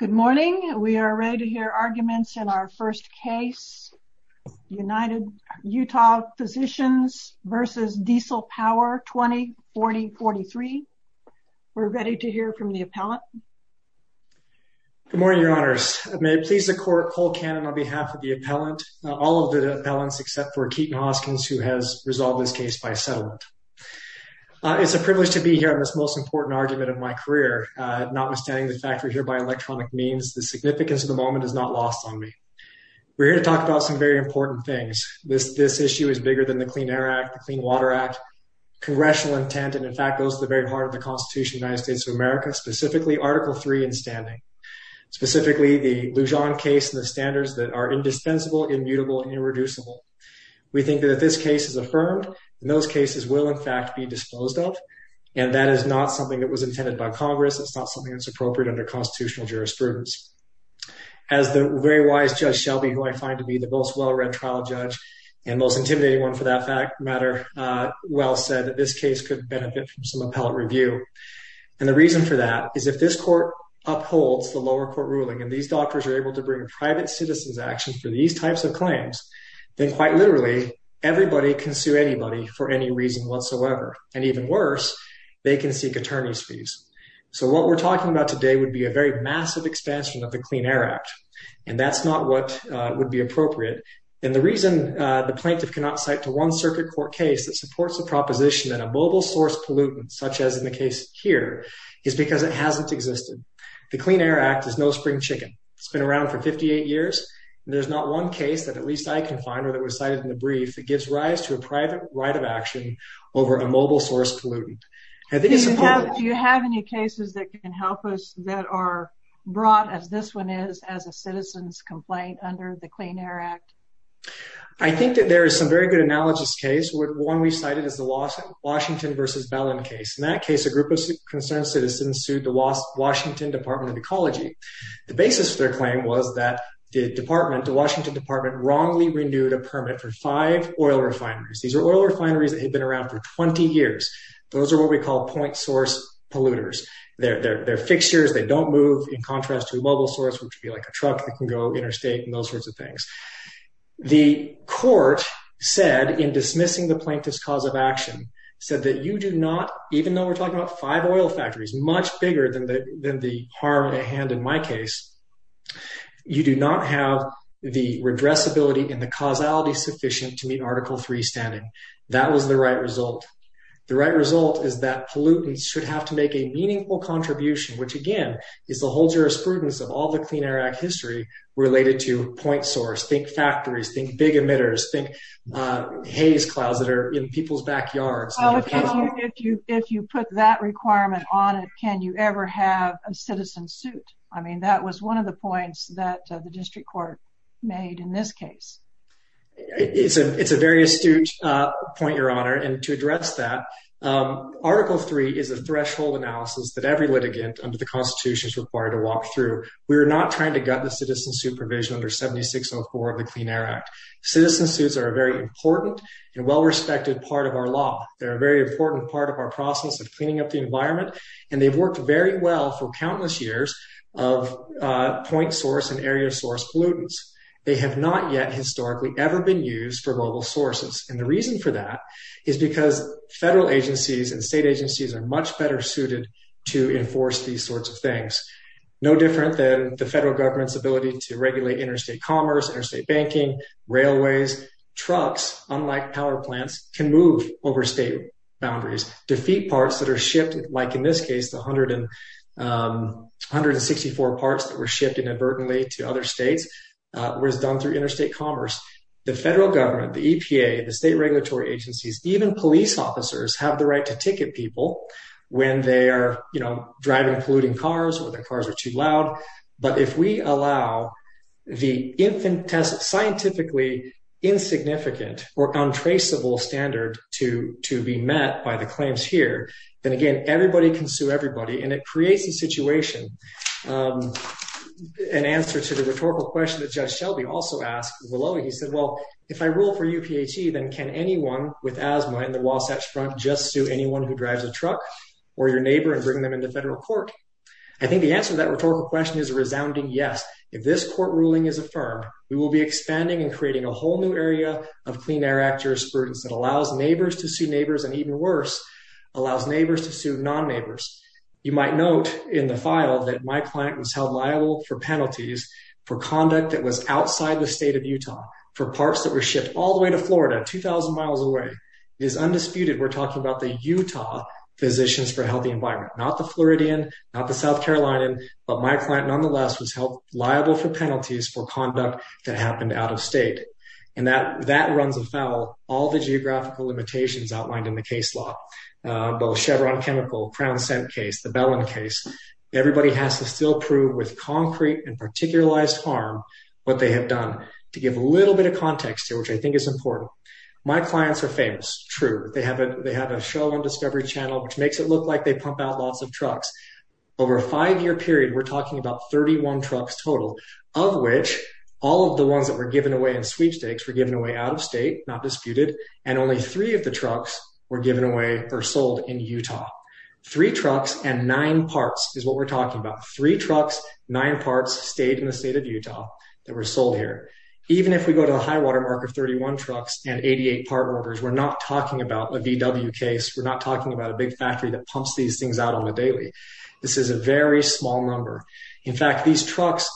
Good morning, we are ready to hear arguments in our first case, United Utah Physicians v. Diesel Power, 20-40-43. We're ready to hear from the appellant. Good morning, your honors. May it please the court, Cole Cannon on behalf of the appellant, all of the appellants except for Keaton Hoskins who has resolved this case by settlement. It's a privilege to be here on this most important argument of my career, notwithstanding the fact we're here by electronic means. The significance of the moment is not lost on me. We're here to talk about some very important things. This issue is bigger than the Clean Air Act, the Clean Water Act, congressional intent, and in fact, goes to the very heart of the Constitution of the United States of America, specifically Article 3 in standing. Specifically, the Lujan case and the standards that are indispensable, immutable, and irreducible. We think that this case is affirmed, and those cases will in fact be disposed of, and that is not something that was intended by Congress. It's not something that's appropriate under constitutional jurisprudence. As the very wise Judge Shelby, who I find to be the most well read trial judge and most intimidating one for that matter, well said that this case could benefit from some appellate review. And the reason for that is if this court upholds the lower court ruling and these doctors are able to bring private citizens action for these types of claims, then quite literally, everybody can sue anybody for any reason whatsoever. And even worse, they can seek attorney's fees. So what we're talking about today would be a very massive expansion of the Clean Air Act, and that's not what would be appropriate. And the reason the plaintiff cannot cite to one circuit court case that supports the proposition that a mobile source pollutant, such as in the case here, is because it hasn't existed. The Clean Air Act is no spring chicken. It's been around for 58 years, and there's not one case that at least I can find, or that was cited in the brief, that gives rise to a private right of action over a mobile source pollutant. Do you have any cases that can help us that are brought, as this one is, as a citizen's complaint under the Clean Air Act? I think that there is some very good analogous case. One we cited is the Washington v. Ballin case. In that case, a group of concerned citizens sued the Washington Department of Ecology. The basis of their claim was that the department, the Washington department, wrongly renewed a permit for five oil refineries. These are oil refineries that had been around for 20 years. Those are what we call point source polluters. They're fixtures. They don't move in contrast to a mobile source, which would be like a truck that can go interstate and those sorts of things. The court said, in dismissing the plaintiff's cause of action, said that you do not, even though we're talking about five oil factories, much bigger than the harm at hand in my case, you do not have the redressability and the causality sufficient to meet Article 3 standing. That was the right result. The right result is that pollutants should have to make a meaningful contribution, which again, is the whole jurisprudence of all the Clean Air Act history related to point source. Think factories, think big emitters, think haze clouds that are in people's lives. If you put that requirement on it, can you ever have a citizen suit? I mean, that was one of the points that the district court made in this case. It's a very astute point, Your Honor, and to address that, Article 3 is a threshold analysis that every litigant under the Constitution is required to walk through. We're not trying to gut the citizen supervision under 7604 of the Clean Air Act. Citizen suits are a very important and well-respected part of our law. They're a very important part of our process of cleaning up the environment, and they've worked very well for countless years of point source and area source pollutants. They have not yet historically ever been used for global sources, and the reason for that is because federal agencies and state agencies are much better suited to enforce these sorts of things. No different than the federal government's ability to regulate interstate commerce, interstate banking, railways, trucks, unlike power plants, can move over state boundaries. Defeat parts that are shipped, like in this case, the 164 parts that were shipped inadvertently to other states, was done through interstate commerce. The federal government, the EPA, the state regulatory agencies, even police officers, have the right to ticket people when they are driving polluting cars or their cars are too loud, but if we allow the scientifically insignificant or untraceable standard to be met by the claims here, then again, everybody can sue everybody, and it creates a situation. An answer to the rhetorical question that Judge Shelby also asked, he said, well, if I rule for UPHE, then can anyone with asthma in the Wasatch Front just sue anyone who drives a truck, or your neighbor, and bring them into federal court? I think the answer to that rhetorical question is a resounding yes. If this court ruling is affirmed, we will be expanding and creating a whole new area of Clean Air Act jurisprudence that allows neighbors to sue neighbors, and even worse, allows neighbors to sue non-neighbors. You might note in the file that my client was held liable for penalties for conduct that was outside the state of Utah, for parts that were shipped all the way to Florida, 2,000 miles away. It is undisputed we're talking about the Utah Physicians for a Healthy Environment, not the Floridian, not the South Carolinian, but my client nonetheless was held liable for penalties for conduct that happened out of state, and that runs afoul all the geographical limitations outlined in the case law, both Chevron Chemical, Crown Scent case, the Bellin case. Everybody has to still prove with concrete and particularized harm what they have done. To give a little bit of context here, I think it's important. My clients are famous, true. They have a show on Discovery Channel, which makes it look like they pump out lots of trucks. Over a five-year period, we're talking about 31 trucks total, of which all of the ones that were given away in sweepstakes were given away out of state, not disputed, and only three of the trucks were given away or sold in Utah. Three trucks and nine parts is what we're talking about. Three trucks, nine parts stayed in the trucks and 88 part numbers. We're not talking about a VW case. We're not talking about a big factory that pumps these things out on a daily. This is a very small number. In fact, these trucks,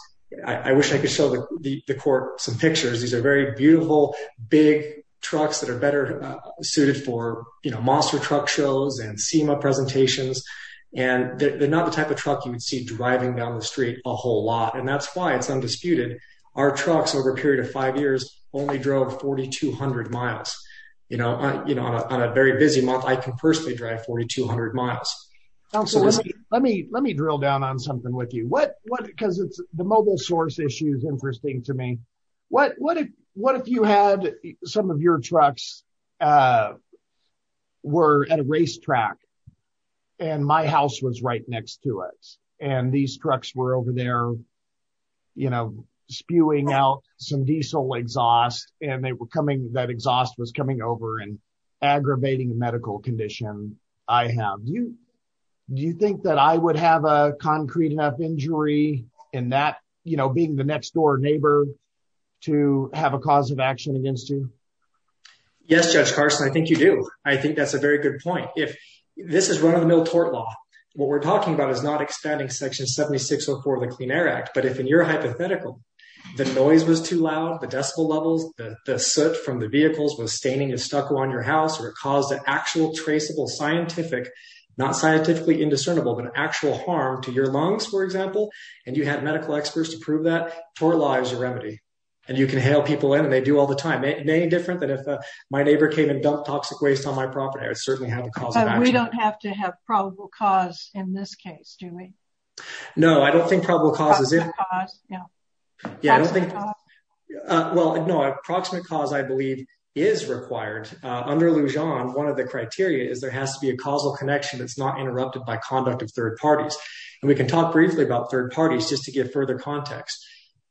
I wish I could show the court some pictures. These are very beautiful, big trucks that are better suited for monster truck shows and SEMA presentations, and they're not the type of truck you would see driving down the street a whole lot, and that's why it's undisputed. Our trucks over a period of five years only drove 4,200 miles. On a very busy month, I can personally drive 4,200 miles. Absolutely. Let me drill down on something with you because the mobile source issue is interesting to me. What if you had some of your trucks were at a racetrack and my house was right next to it, and these trucks were over there spewing out some diesel exhaust, and that exhaust was coming over and aggravating the medical condition I have. Do you think that I would have a concrete enough injury in that being the next door neighbor to have a cause of action against you? Yes, Judge Carson, I think you do. I think that's a very good point. This is run-of-the-mill tort law. What we're talking about is not expanding Section 7604 of the Clean Air Act, but if in your hypothetical, the noise was too loud, the decibel levels, the soot from the vehicles was staining and stucco on your house, or it caused an actual traceable scientific, not scientifically indiscernible, but an actual harm to your lungs, for example, and you had medical experts to prove that, tort law is your remedy, and you can hail people in, and they do all the time. Any different than if my neighbor came and dumped toxic waste on my property, I would certainly have a cause of action. But we don't have to have probable cause in this case, do we? No, I don't think probable cause is... Approximate cause, yeah. Well, no, approximate cause, I believe, is required. Under Lujan, one of the criteria is there has to be a causal connection that's not interrupted by conduct of third parties, and we can talk briefly about third parties just to give further context.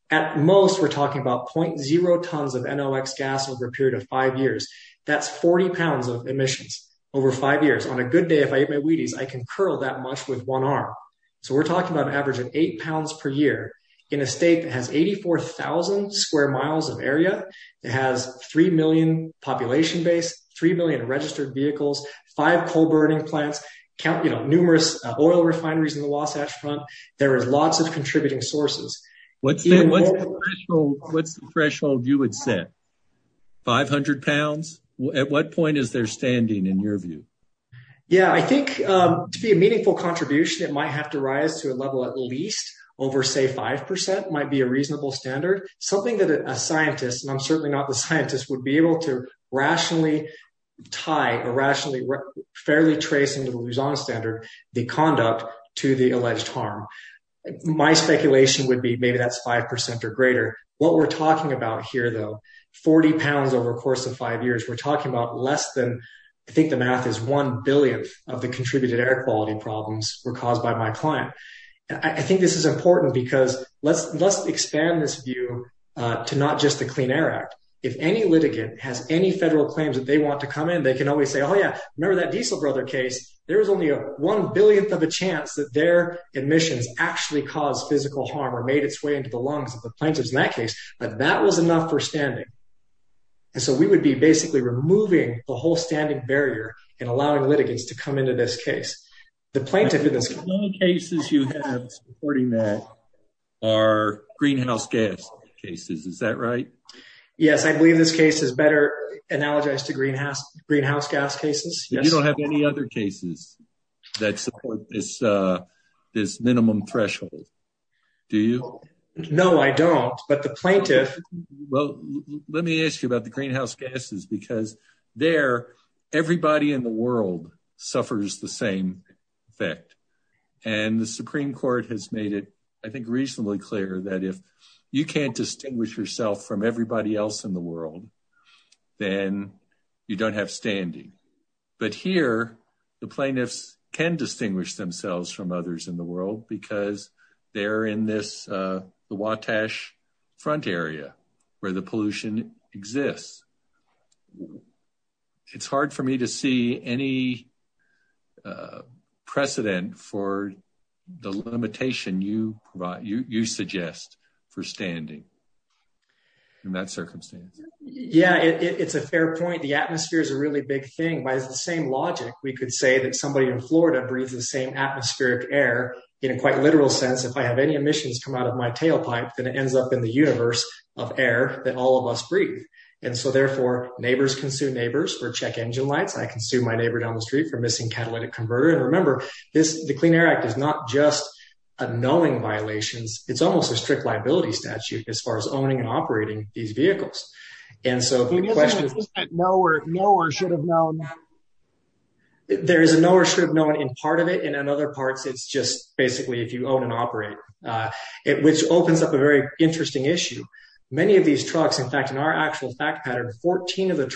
At most, we're talking about 0.0 tons of NOx gas over a period of five years. That's 40 pounds of emissions over five years. On a good day, if I eat my Wheaties, I can curl that much with one arm. So we're talking about an average of eight pounds per year in a state that has 84,000 square miles of area, that has 3 million population base, 3 million registered vehicles, five coal-burning plants, numerous oil refineries in the Wasatch Front. There is lots of contributing sources. What's the threshold you would set? 500 pounds? At what point is there standing in your view? Yeah, I think to be a meaningful contribution, it might have to rise to a level at least over, say, 5% might be a reasonable standard. Something that a scientist, and I'm certainly not the scientist, would be able to rationally tie or rationally, fairly trace into the Lujan Standard, the conduct to the alleged harm. My speculation would be maybe that's 5% or greater. What we're talking about here, though, 40 pounds over a course of five years, we're talking about less than, I think the math is one billionth of the contributed air quality problems were caused by my client. I think this is important because let's expand this view to not just the Clean Air Act. If any litigant has any federal claims that they want to come in, they can always say, oh, remember that Diesel Brother case? There was only a one-billionth of a chance that their emissions actually caused physical harm or made its way into the lungs of the plaintiffs in that case, but that was enough for standing. So we would be basically removing the whole standing barrier and allowing litigants to come into this case. The plaintiff in this case... The only cases you have supporting that are greenhouse gas cases, is that right? Yes, I believe this case is better analogized to greenhouse gas cases. You don't have any other cases that support this minimum threshold, do you? No, I don't. But the plaintiff... Well, let me ask you about the greenhouse gases because there, everybody in the world suffers the same effect. And the Supreme Court has made it, I think, reasonably clear that if you can't distinguish yourself from everybody else in the world, then you don't have standing. But here, the plaintiffs can distinguish themselves from others in the world because they're in the Wattash Front area where the pollution exists. It's hard for me to see any precedent for the limitation you suggest for standing in that circumstance. Yeah, it's a fair point. The atmosphere is a really big thing. By the same logic, we could say that somebody in Florida breathes the same atmospheric air in a quite literal sense. If I have any emissions come out of my tailpipe, then it ends up in the universe of air that all of us breathe. And so therefore, neighbors can sue neighbors for check engine lights. I can sue my neighbor down the street for missing catalytic converter. And remember, the Clean Air Act is not just a knowing violations. It's almost a strict liability statute as far as owning and operating these vehicles. And so the question is... There is a no or should have known in part of it. And in other parts, it's just basically if you own and operate it, which opens up a very interesting issue. Many of these trucks, in fact, our actual fact pattern, 17 of the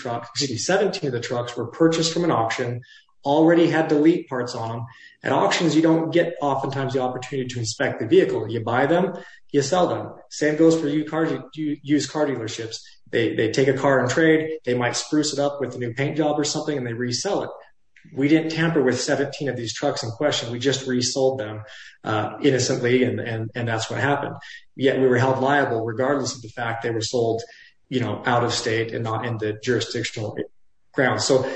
trucks were purchased from an auction, already had delete parts on. At auctions, you don't get oftentimes the opportunity to inspect the vehicle. You buy them, you sell them. Same goes for used car dealerships. They take a car and trade, they might spruce it up with a new paint job or something and they resell it. We didn't tamper with 17 of these trucks in question. We just resold them innocently and that's what happened. Yet we were held liable regardless of the fact they were sold out of state and not in the jurisdictional grounds. So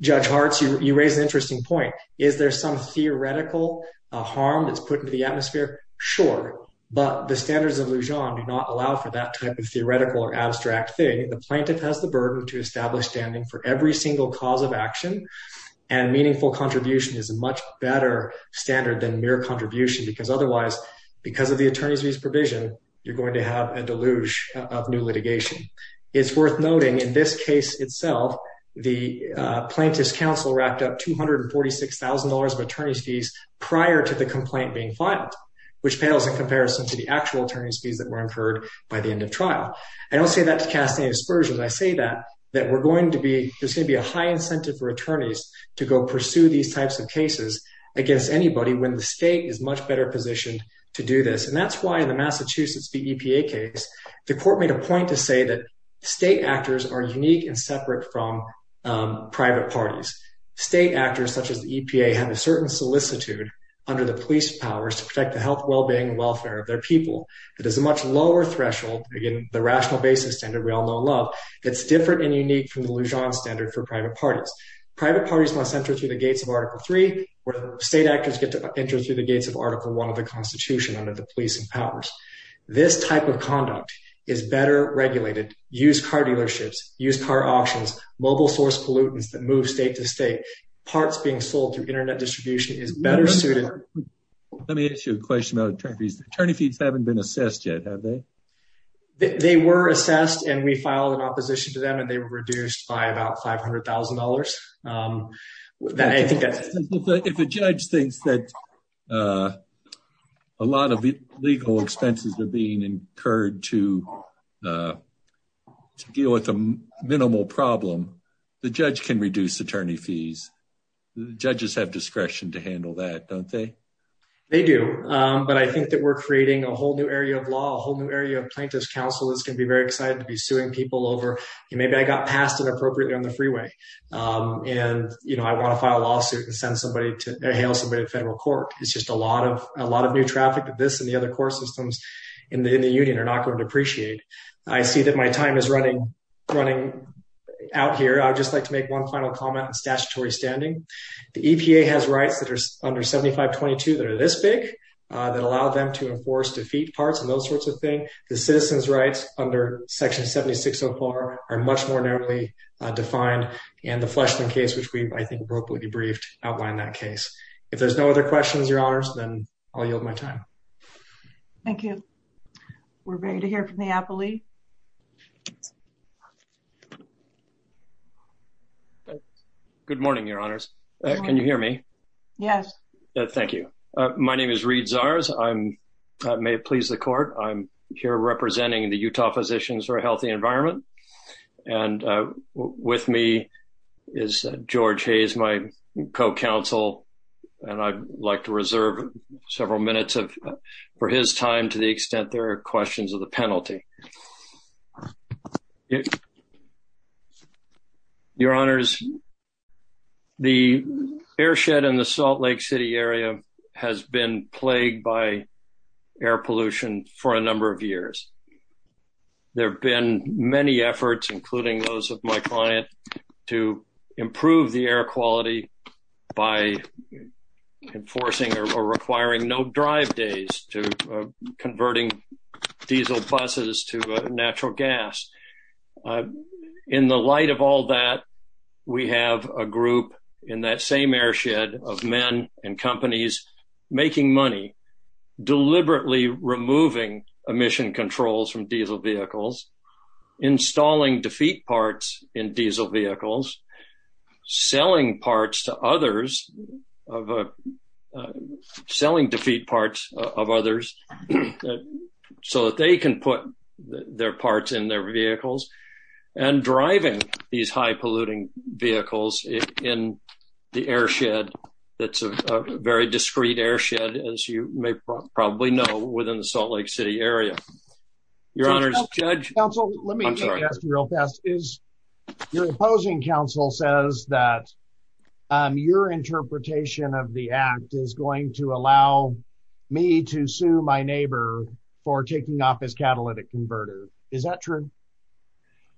Judge Hartz, you raised an interesting point. Is there some theoretical harm that's put into the atmosphere? Sure. But the standards of Lujan do not allow for that type of theoretical or abstract thing. The plaintiff has the burden to establish standing for every single cause of action. And meaningful contribution is a much better standard than mere contribution because otherwise, because of the attorney's fees provision, you're going to have a deluge of new litigation. It's worth noting in this case itself, the plaintiff's counsel wrapped up $246,000 of attorney's fees prior to the complaint being filed, which pales in comparison to the actual attorney's fees that were incurred by the end of trial. I don't say that to cast any aspersions. I say that there's going to be a high incentive for attorneys to go pursue these types of cases against anybody when the state is much better positioned to do this. And that's why in the Massachusetts v. EPA case, the court made a point to say that state actors are unique and separate from private parties. State actors such as the EPA have a certain solicitude under the police powers to protect the health, well-being, and welfare of their people. It is a much lower threshold, again, the rational basis standard we all know and love, that's different and unique from the Lujan standard for private parties. Private parties must enter through the gates of Article III where state actors get to enter through the gates of Article I of the Constitution under the police and powers. This type of conduct is better regulated. Use car dealerships, use car auctions, mobile source pollutants that move state to state, parts being sold through internet distribution is better suited. Let me ask you a question about attorney fees. Attorney fees haven't been assessed yet, have they? They were assessed and we filed an opposition to they were reduced by about $500,000. If a judge thinks that a lot of legal expenses are being incurred to deal with a minimal problem, the judge can reduce attorney fees. Judges have discretion to handle that, don't they? They do, but I think that we're creating a whole new area of law, a whole new area of plaintiff's counsel that's going to be very excited to be suing people over. Maybe I got passed inappropriately on the freeway and, you know, I want to file a lawsuit and hail somebody to federal court. It's just a lot of new traffic that this and the other court systems in the union are not going to appreciate. I see that my time is running out here. I would just like to make one final comment in statutory standing. The EPA has rights that are under 7522 that are this big that allow them to enforce defeat parts and those sorts of things. The citizens' rights under section 7604 are much more narrowly defined and the Fleshman case, which we've, I think, appropriately briefed, outlined that case. If there's no other questions, Your Honors, then I'll yield my time. Thank you. We're ready to hear from the appellee. Good morning, Your Honors. Can you hear me? Yes. Thank you. My name is Reid Zars. May it please the court, I'm here representing the Utah Physicians for a Healthy Environment and with me is George Hayes, my co-counsel, and I'd like to reserve several minutes for his time to the extent there are questions of the has been plagued by air pollution for a number of years. There have been many efforts, including those of my client, to improve the air quality by enforcing or requiring no drive days to converting diesel buses to natural gas. In the light of all that, we have a group in that same airshed of men and companies making money, deliberately removing emission controls from diesel vehicles, installing defeat parts in diesel vehicles, selling parts to others, selling defeat parts of others so that they can put their parts in their vehicles, and driving these high-polluting vehicles in the airshed that's a very discreet airshed, as you may probably know, within the Salt Lake City area. Your Honors, Judge? Counsel, let me ask you real fast. Your opposing counsel says that your interpretation of the act is going to allow me to sue my neighbor for taking off his catalytic converter. Is that true?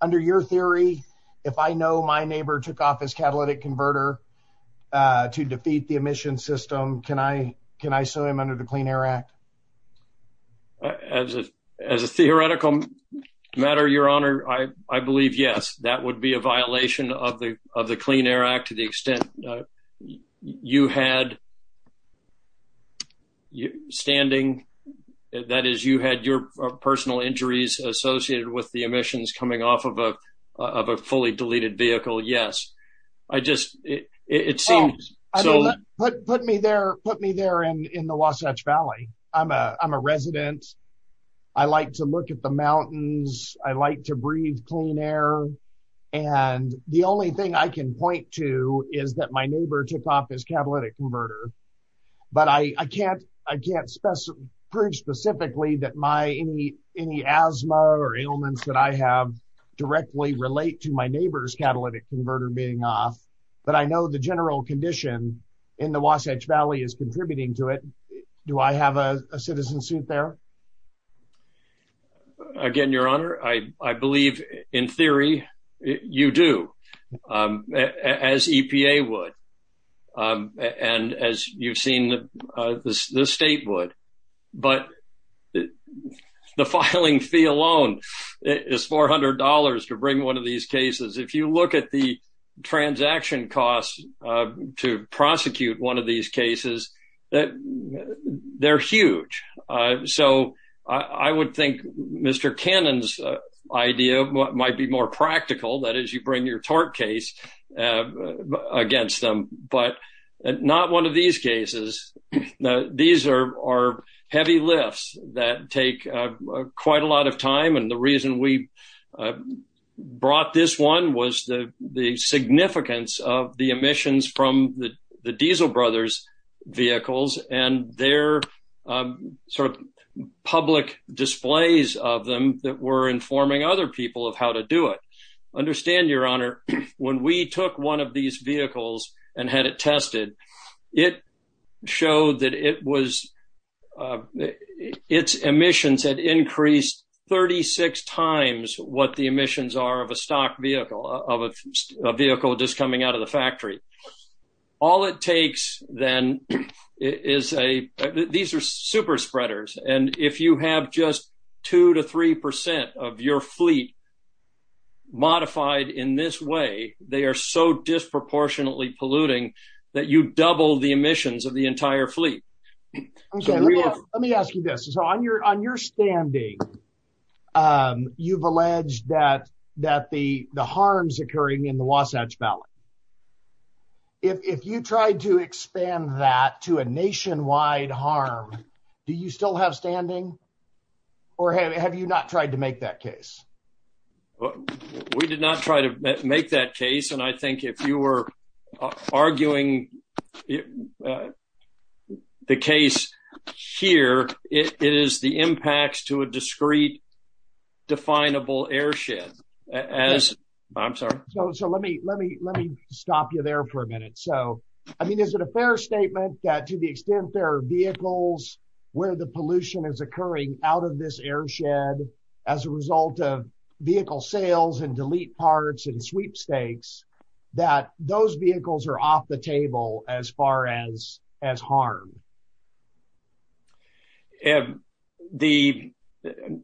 Under your theory, if I know my neighbor took off his catalytic converter to defeat the emission system, can I sue him under the Clean Air Act? As a theoretical matter, Your Honor, I believe yes. That would be a violation of the Clean Air Act to the extent you had standing, that is, you had your personal injuries associated with emissions coming off of a fully deleted vehicle, yes. Put me there in the Wasatch Valley. I'm a resident. I like to look at the mountains. I like to breathe clean air. The only thing I can point to is that my neighbor took off his catalytic converter, but I can't prove specifically that any asthma or ailments that I have directly relate to my neighbor's catalytic converter being off, but I know the general condition in the Wasatch Valley is contributing to it. Do I have a citizen suit there? Again, Your Honor, I believe in theory you do, as EPA would and as you've seen the state would, but the filing fee alone is $400 to bring one of these cases. If you look at the transaction costs to prosecute one of these cases, they're huge. So I would think Mr. Cannon's idea might be more practical, that is, you bring your tort case against them, but not one of these cases. These are heavy lifts that take quite a lot of time, and the reason we brought this one was the significance of the emissions from the public displays of them that were informing other people of how to do it. Understand, Your Honor, when we took one of these vehicles and had it tested, it showed that its emissions had increased 36 times what the emissions are of a stock vehicle, of a vehicle just coming out of the factory. All it takes then is a, these are super spreaders, and if you have just two to three percent of your fleet modified in this way, they are so disproportionately polluting that you double the emissions of the entire fleet. Okay, let me ask you this. So on your standing, you've alleged that the harms occurring in the Wasatch Valley, if you tried to expand that to a nationwide harm, do you still have standing, or have you not tried to make that case? We did not try to make that case, and I think if you were to make the case here, it is the impacts to a discrete, definable airshed. I'm sorry. So let me stop you there for a minute. So, I mean, is it a fair statement that to the extent there are vehicles where the pollution is occurring out of this airshed as a result of as far as harm?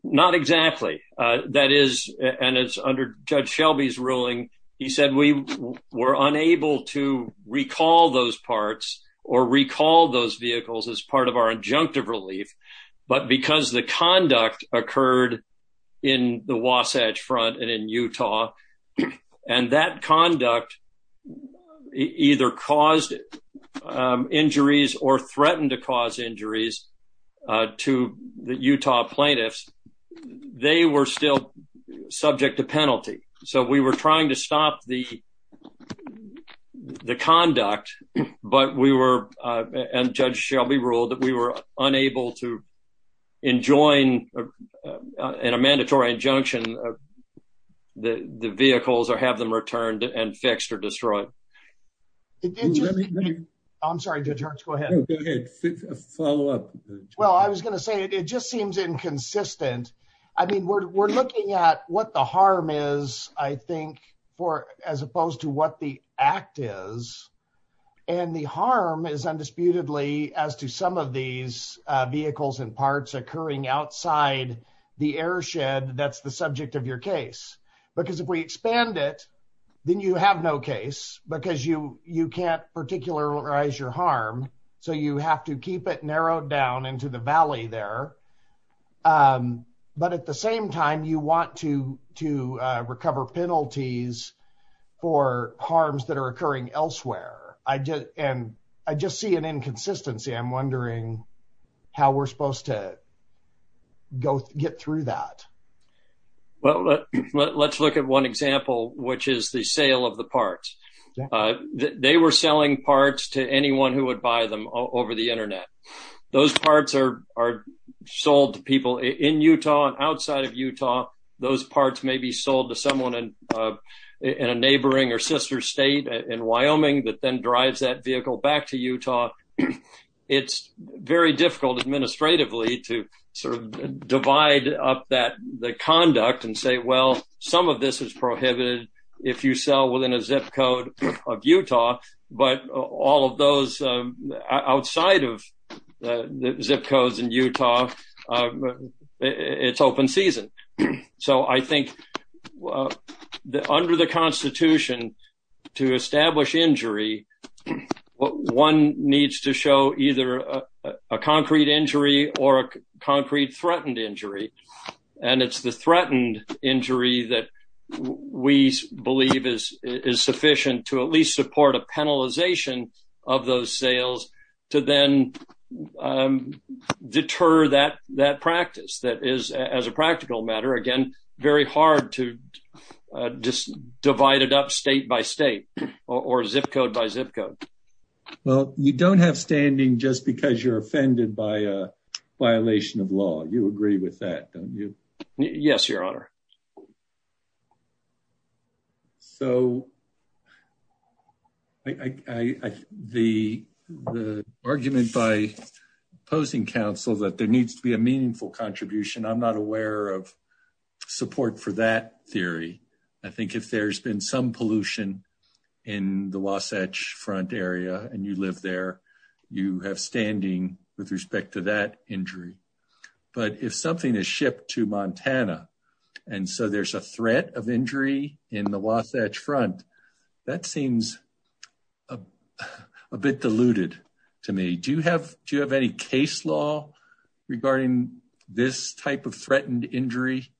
Not exactly. That is, and it's under Judge Shelby's ruling, he said we were unable to recall those parts or recall those vehicles as part of our injunctive relief, but because the conduct occurred in the Wasatch Front and in Utah, and that conduct either caused injuries or threatened to cause injuries to the Utah plaintiffs, they were still subject to penalty. So we were trying to stop the conduct, but we were, and Judge Shelby ruled, that we were unable to enjoin in a mandatory injunction of the vehicles or have them returned and fixed or destroyed. I'm sorry, Judge Hurts, go ahead. Go ahead, follow up. Well, I was going to say it just seems inconsistent. I mean, we're looking at what the harm is, I think, as opposed to what the act is, and the harm is undisputedly as to some of vehicles and parts occurring outside the airshed that's the subject of your case. Because if we expand it, then you have no case because you can't particularize your harm, so you have to keep it narrowed down into the valley there. But at the same time, you want to recover penalties for harms that are occurring elsewhere. And I just see an inconsistency. I'm wondering how we're supposed to get through that. Well, let's look at one example, which is the sale of the parts. They were selling parts to anyone who would buy them over the internet. Those parts are sold to people in Utah and outside of Utah. Those parts may be sold to someone in a neighboring or sister state in Wyoming that then drives that vehicle back to Utah. It's very difficult administratively to sort of divide up the conduct and say, well, some of this is prohibited if you sell within a zip code of Utah, but all of those outside of the zip codes in Utah, it's open season. So I think under the Constitution, to establish injury, one needs to show either a concrete injury or a concrete threatened injury. And it's the threatened injury that we believe is sufficient to at least support a penalization of those sales to then deter that practice that is, as a practical matter, again, very hard to just divide it up state by state or zip code by zip code. Well, you don't have standing just because you're offended by a violation of law. You agree with that, don't you? Yes, Your Honor. So the argument by opposing counsel that there needs to be a meaningful contribution, I'm not aware of support for that theory. I think if there's been some pollution in the Wasatch Front area and you live there, you have standing with respect to that injury. But if something is shipped to Montana, and so there's a threat of injury in the Wasatch Front, that seems a bit deluded to me. Do you have any case law regarding this type of threatened injury?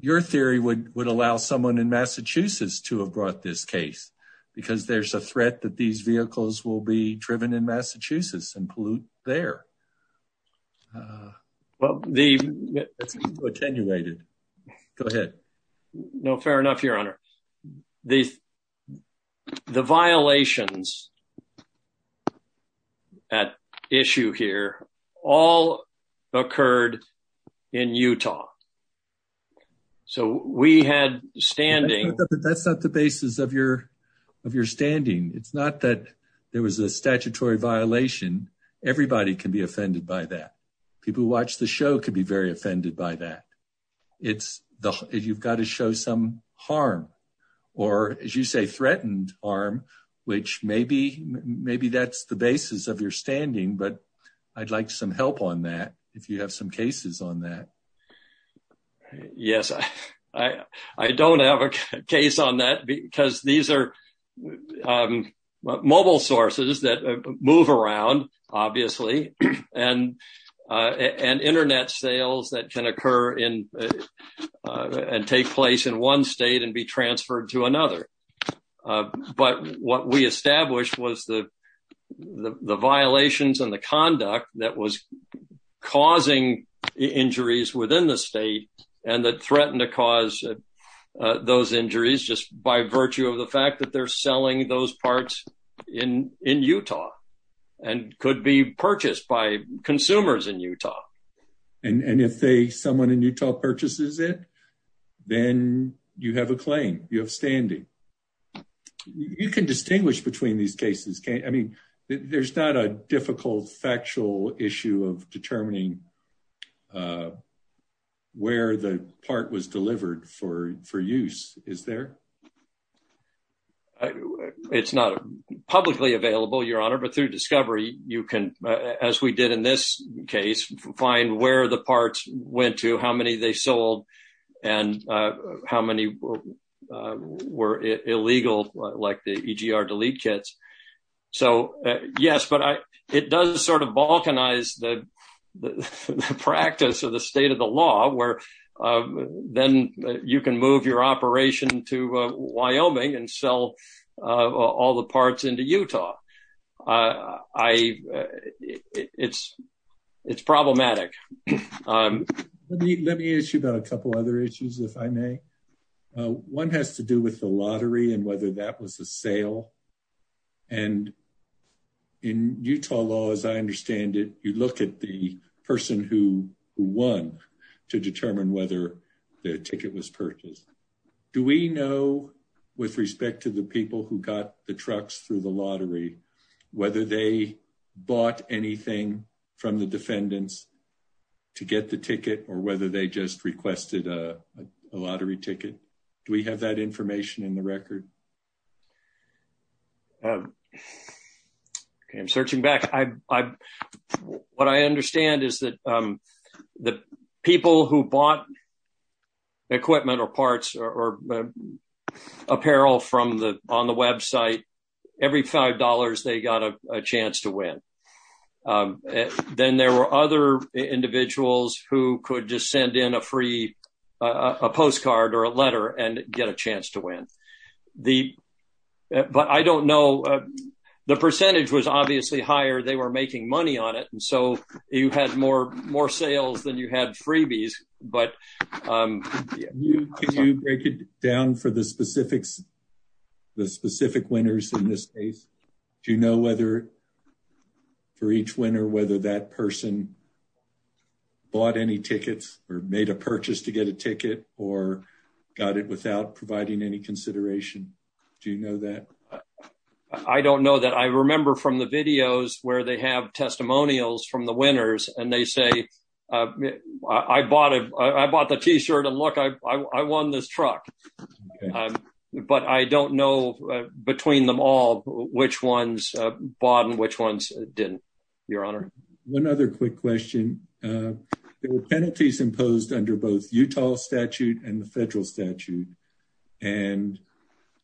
Your theory would allow someone in Massachusetts to have brought this case, because there's a threat that these vehicles will be driven in Massachusetts and pollute there. Well, the... It's attenuated. Go ahead. No, fair enough, Your Honor. The violations at issue here all occurred in Utah. So we had standing... That's not the basis of your standing. It's not that there was a statutory violation. Everybody can be offended by that. People who watch the show could be very offended by that. You've got to show some harm or, as you say, threatened harm, which maybe that's the basis of your standing. But I'd like some help on that mobile sources that move around, obviously, and internet sales that can occur in and take place in one state and be transferred to another. But what we established was the violations and the conduct that was causing injuries within the state and that threatened to cause those injuries just by virtue of the fact that they're selling those parts in Utah and could be purchased by consumers in Utah. And if someone in Utah purchases it, then you have a claim. You have standing. You can distinguish between these cases. I mean, there's not a difficult factual issue of determining where the part was delivered for use, is there? It's not publicly available, Your Honor. But through discovery, you can, as we did in this case, find where the parts went to, how many they sold, and how many were illegal, like the EGR delete kits. So, yes, but it does sort of balkanize the practice or the state of the law where then you can move your operation to Wyoming and sell all the parts into Utah. It's problematic. Let me ask you about a couple other issues, if I may. One has to do with the lottery and whether that was a sale. And in Utah law, as I understand it, you look at the person who won to determine whether the ticket was purchased. Do we know, with respect to the people who got the trucks through the lottery, whether they bought anything from the defendants to get the ticket or whether they just requested a lottery ticket? Do we have that information in the record? I'm searching back. What I understand is that the people who bought equipment or parts or on the website, every $5, they got a chance to win. Then there were other individuals who could just send in a free postcard or a letter and get a chance to win. But I don't know. The percentage was obviously higher. They were making money on it. And so you had more sales than you had freebies. Can you break it down for the specific winners in this case? Do you know for each winner whether that person bought any tickets or made a purchase to get a ticket or got it without providing any consideration? Do you know that? I don't know that. I remember from the videos where they have testimonials from the winners and they say, I bought the t-shirt and look, I won this truck. But I don't know between them all which ones bought and which ones didn't, Your Honor. One other quick question. There were penalties imposed under both Utah statute and the federal statute. And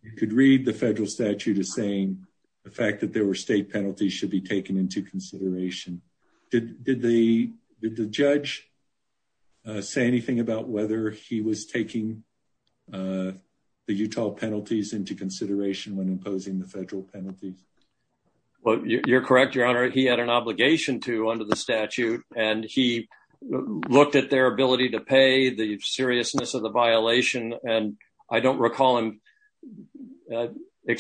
you could read the federal statute as saying the fact that there were state penalties should be taken into consideration. Did the judge say anything about whether he was taking the Utah penalties into consideration when imposing the federal penalties? You're correct, Your Honor. He had an obligation to under the statute. And he looked at their ability to pay, the seriousness of the violation. And I don't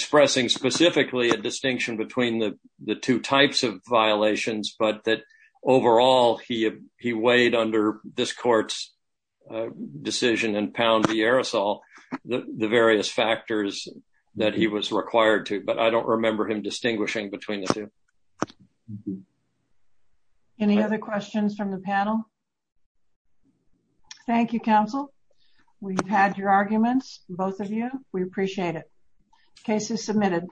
specifically a distinction between the two types of violations, but that overall he weighed under this court's decision and pound the aerosol, the various factors that he was required to. But I don't remember him distinguishing between the two. Any other questions from the panel? Thank you, counsel. We've had your arguments, both of you. We appreciate it. Case is submitted.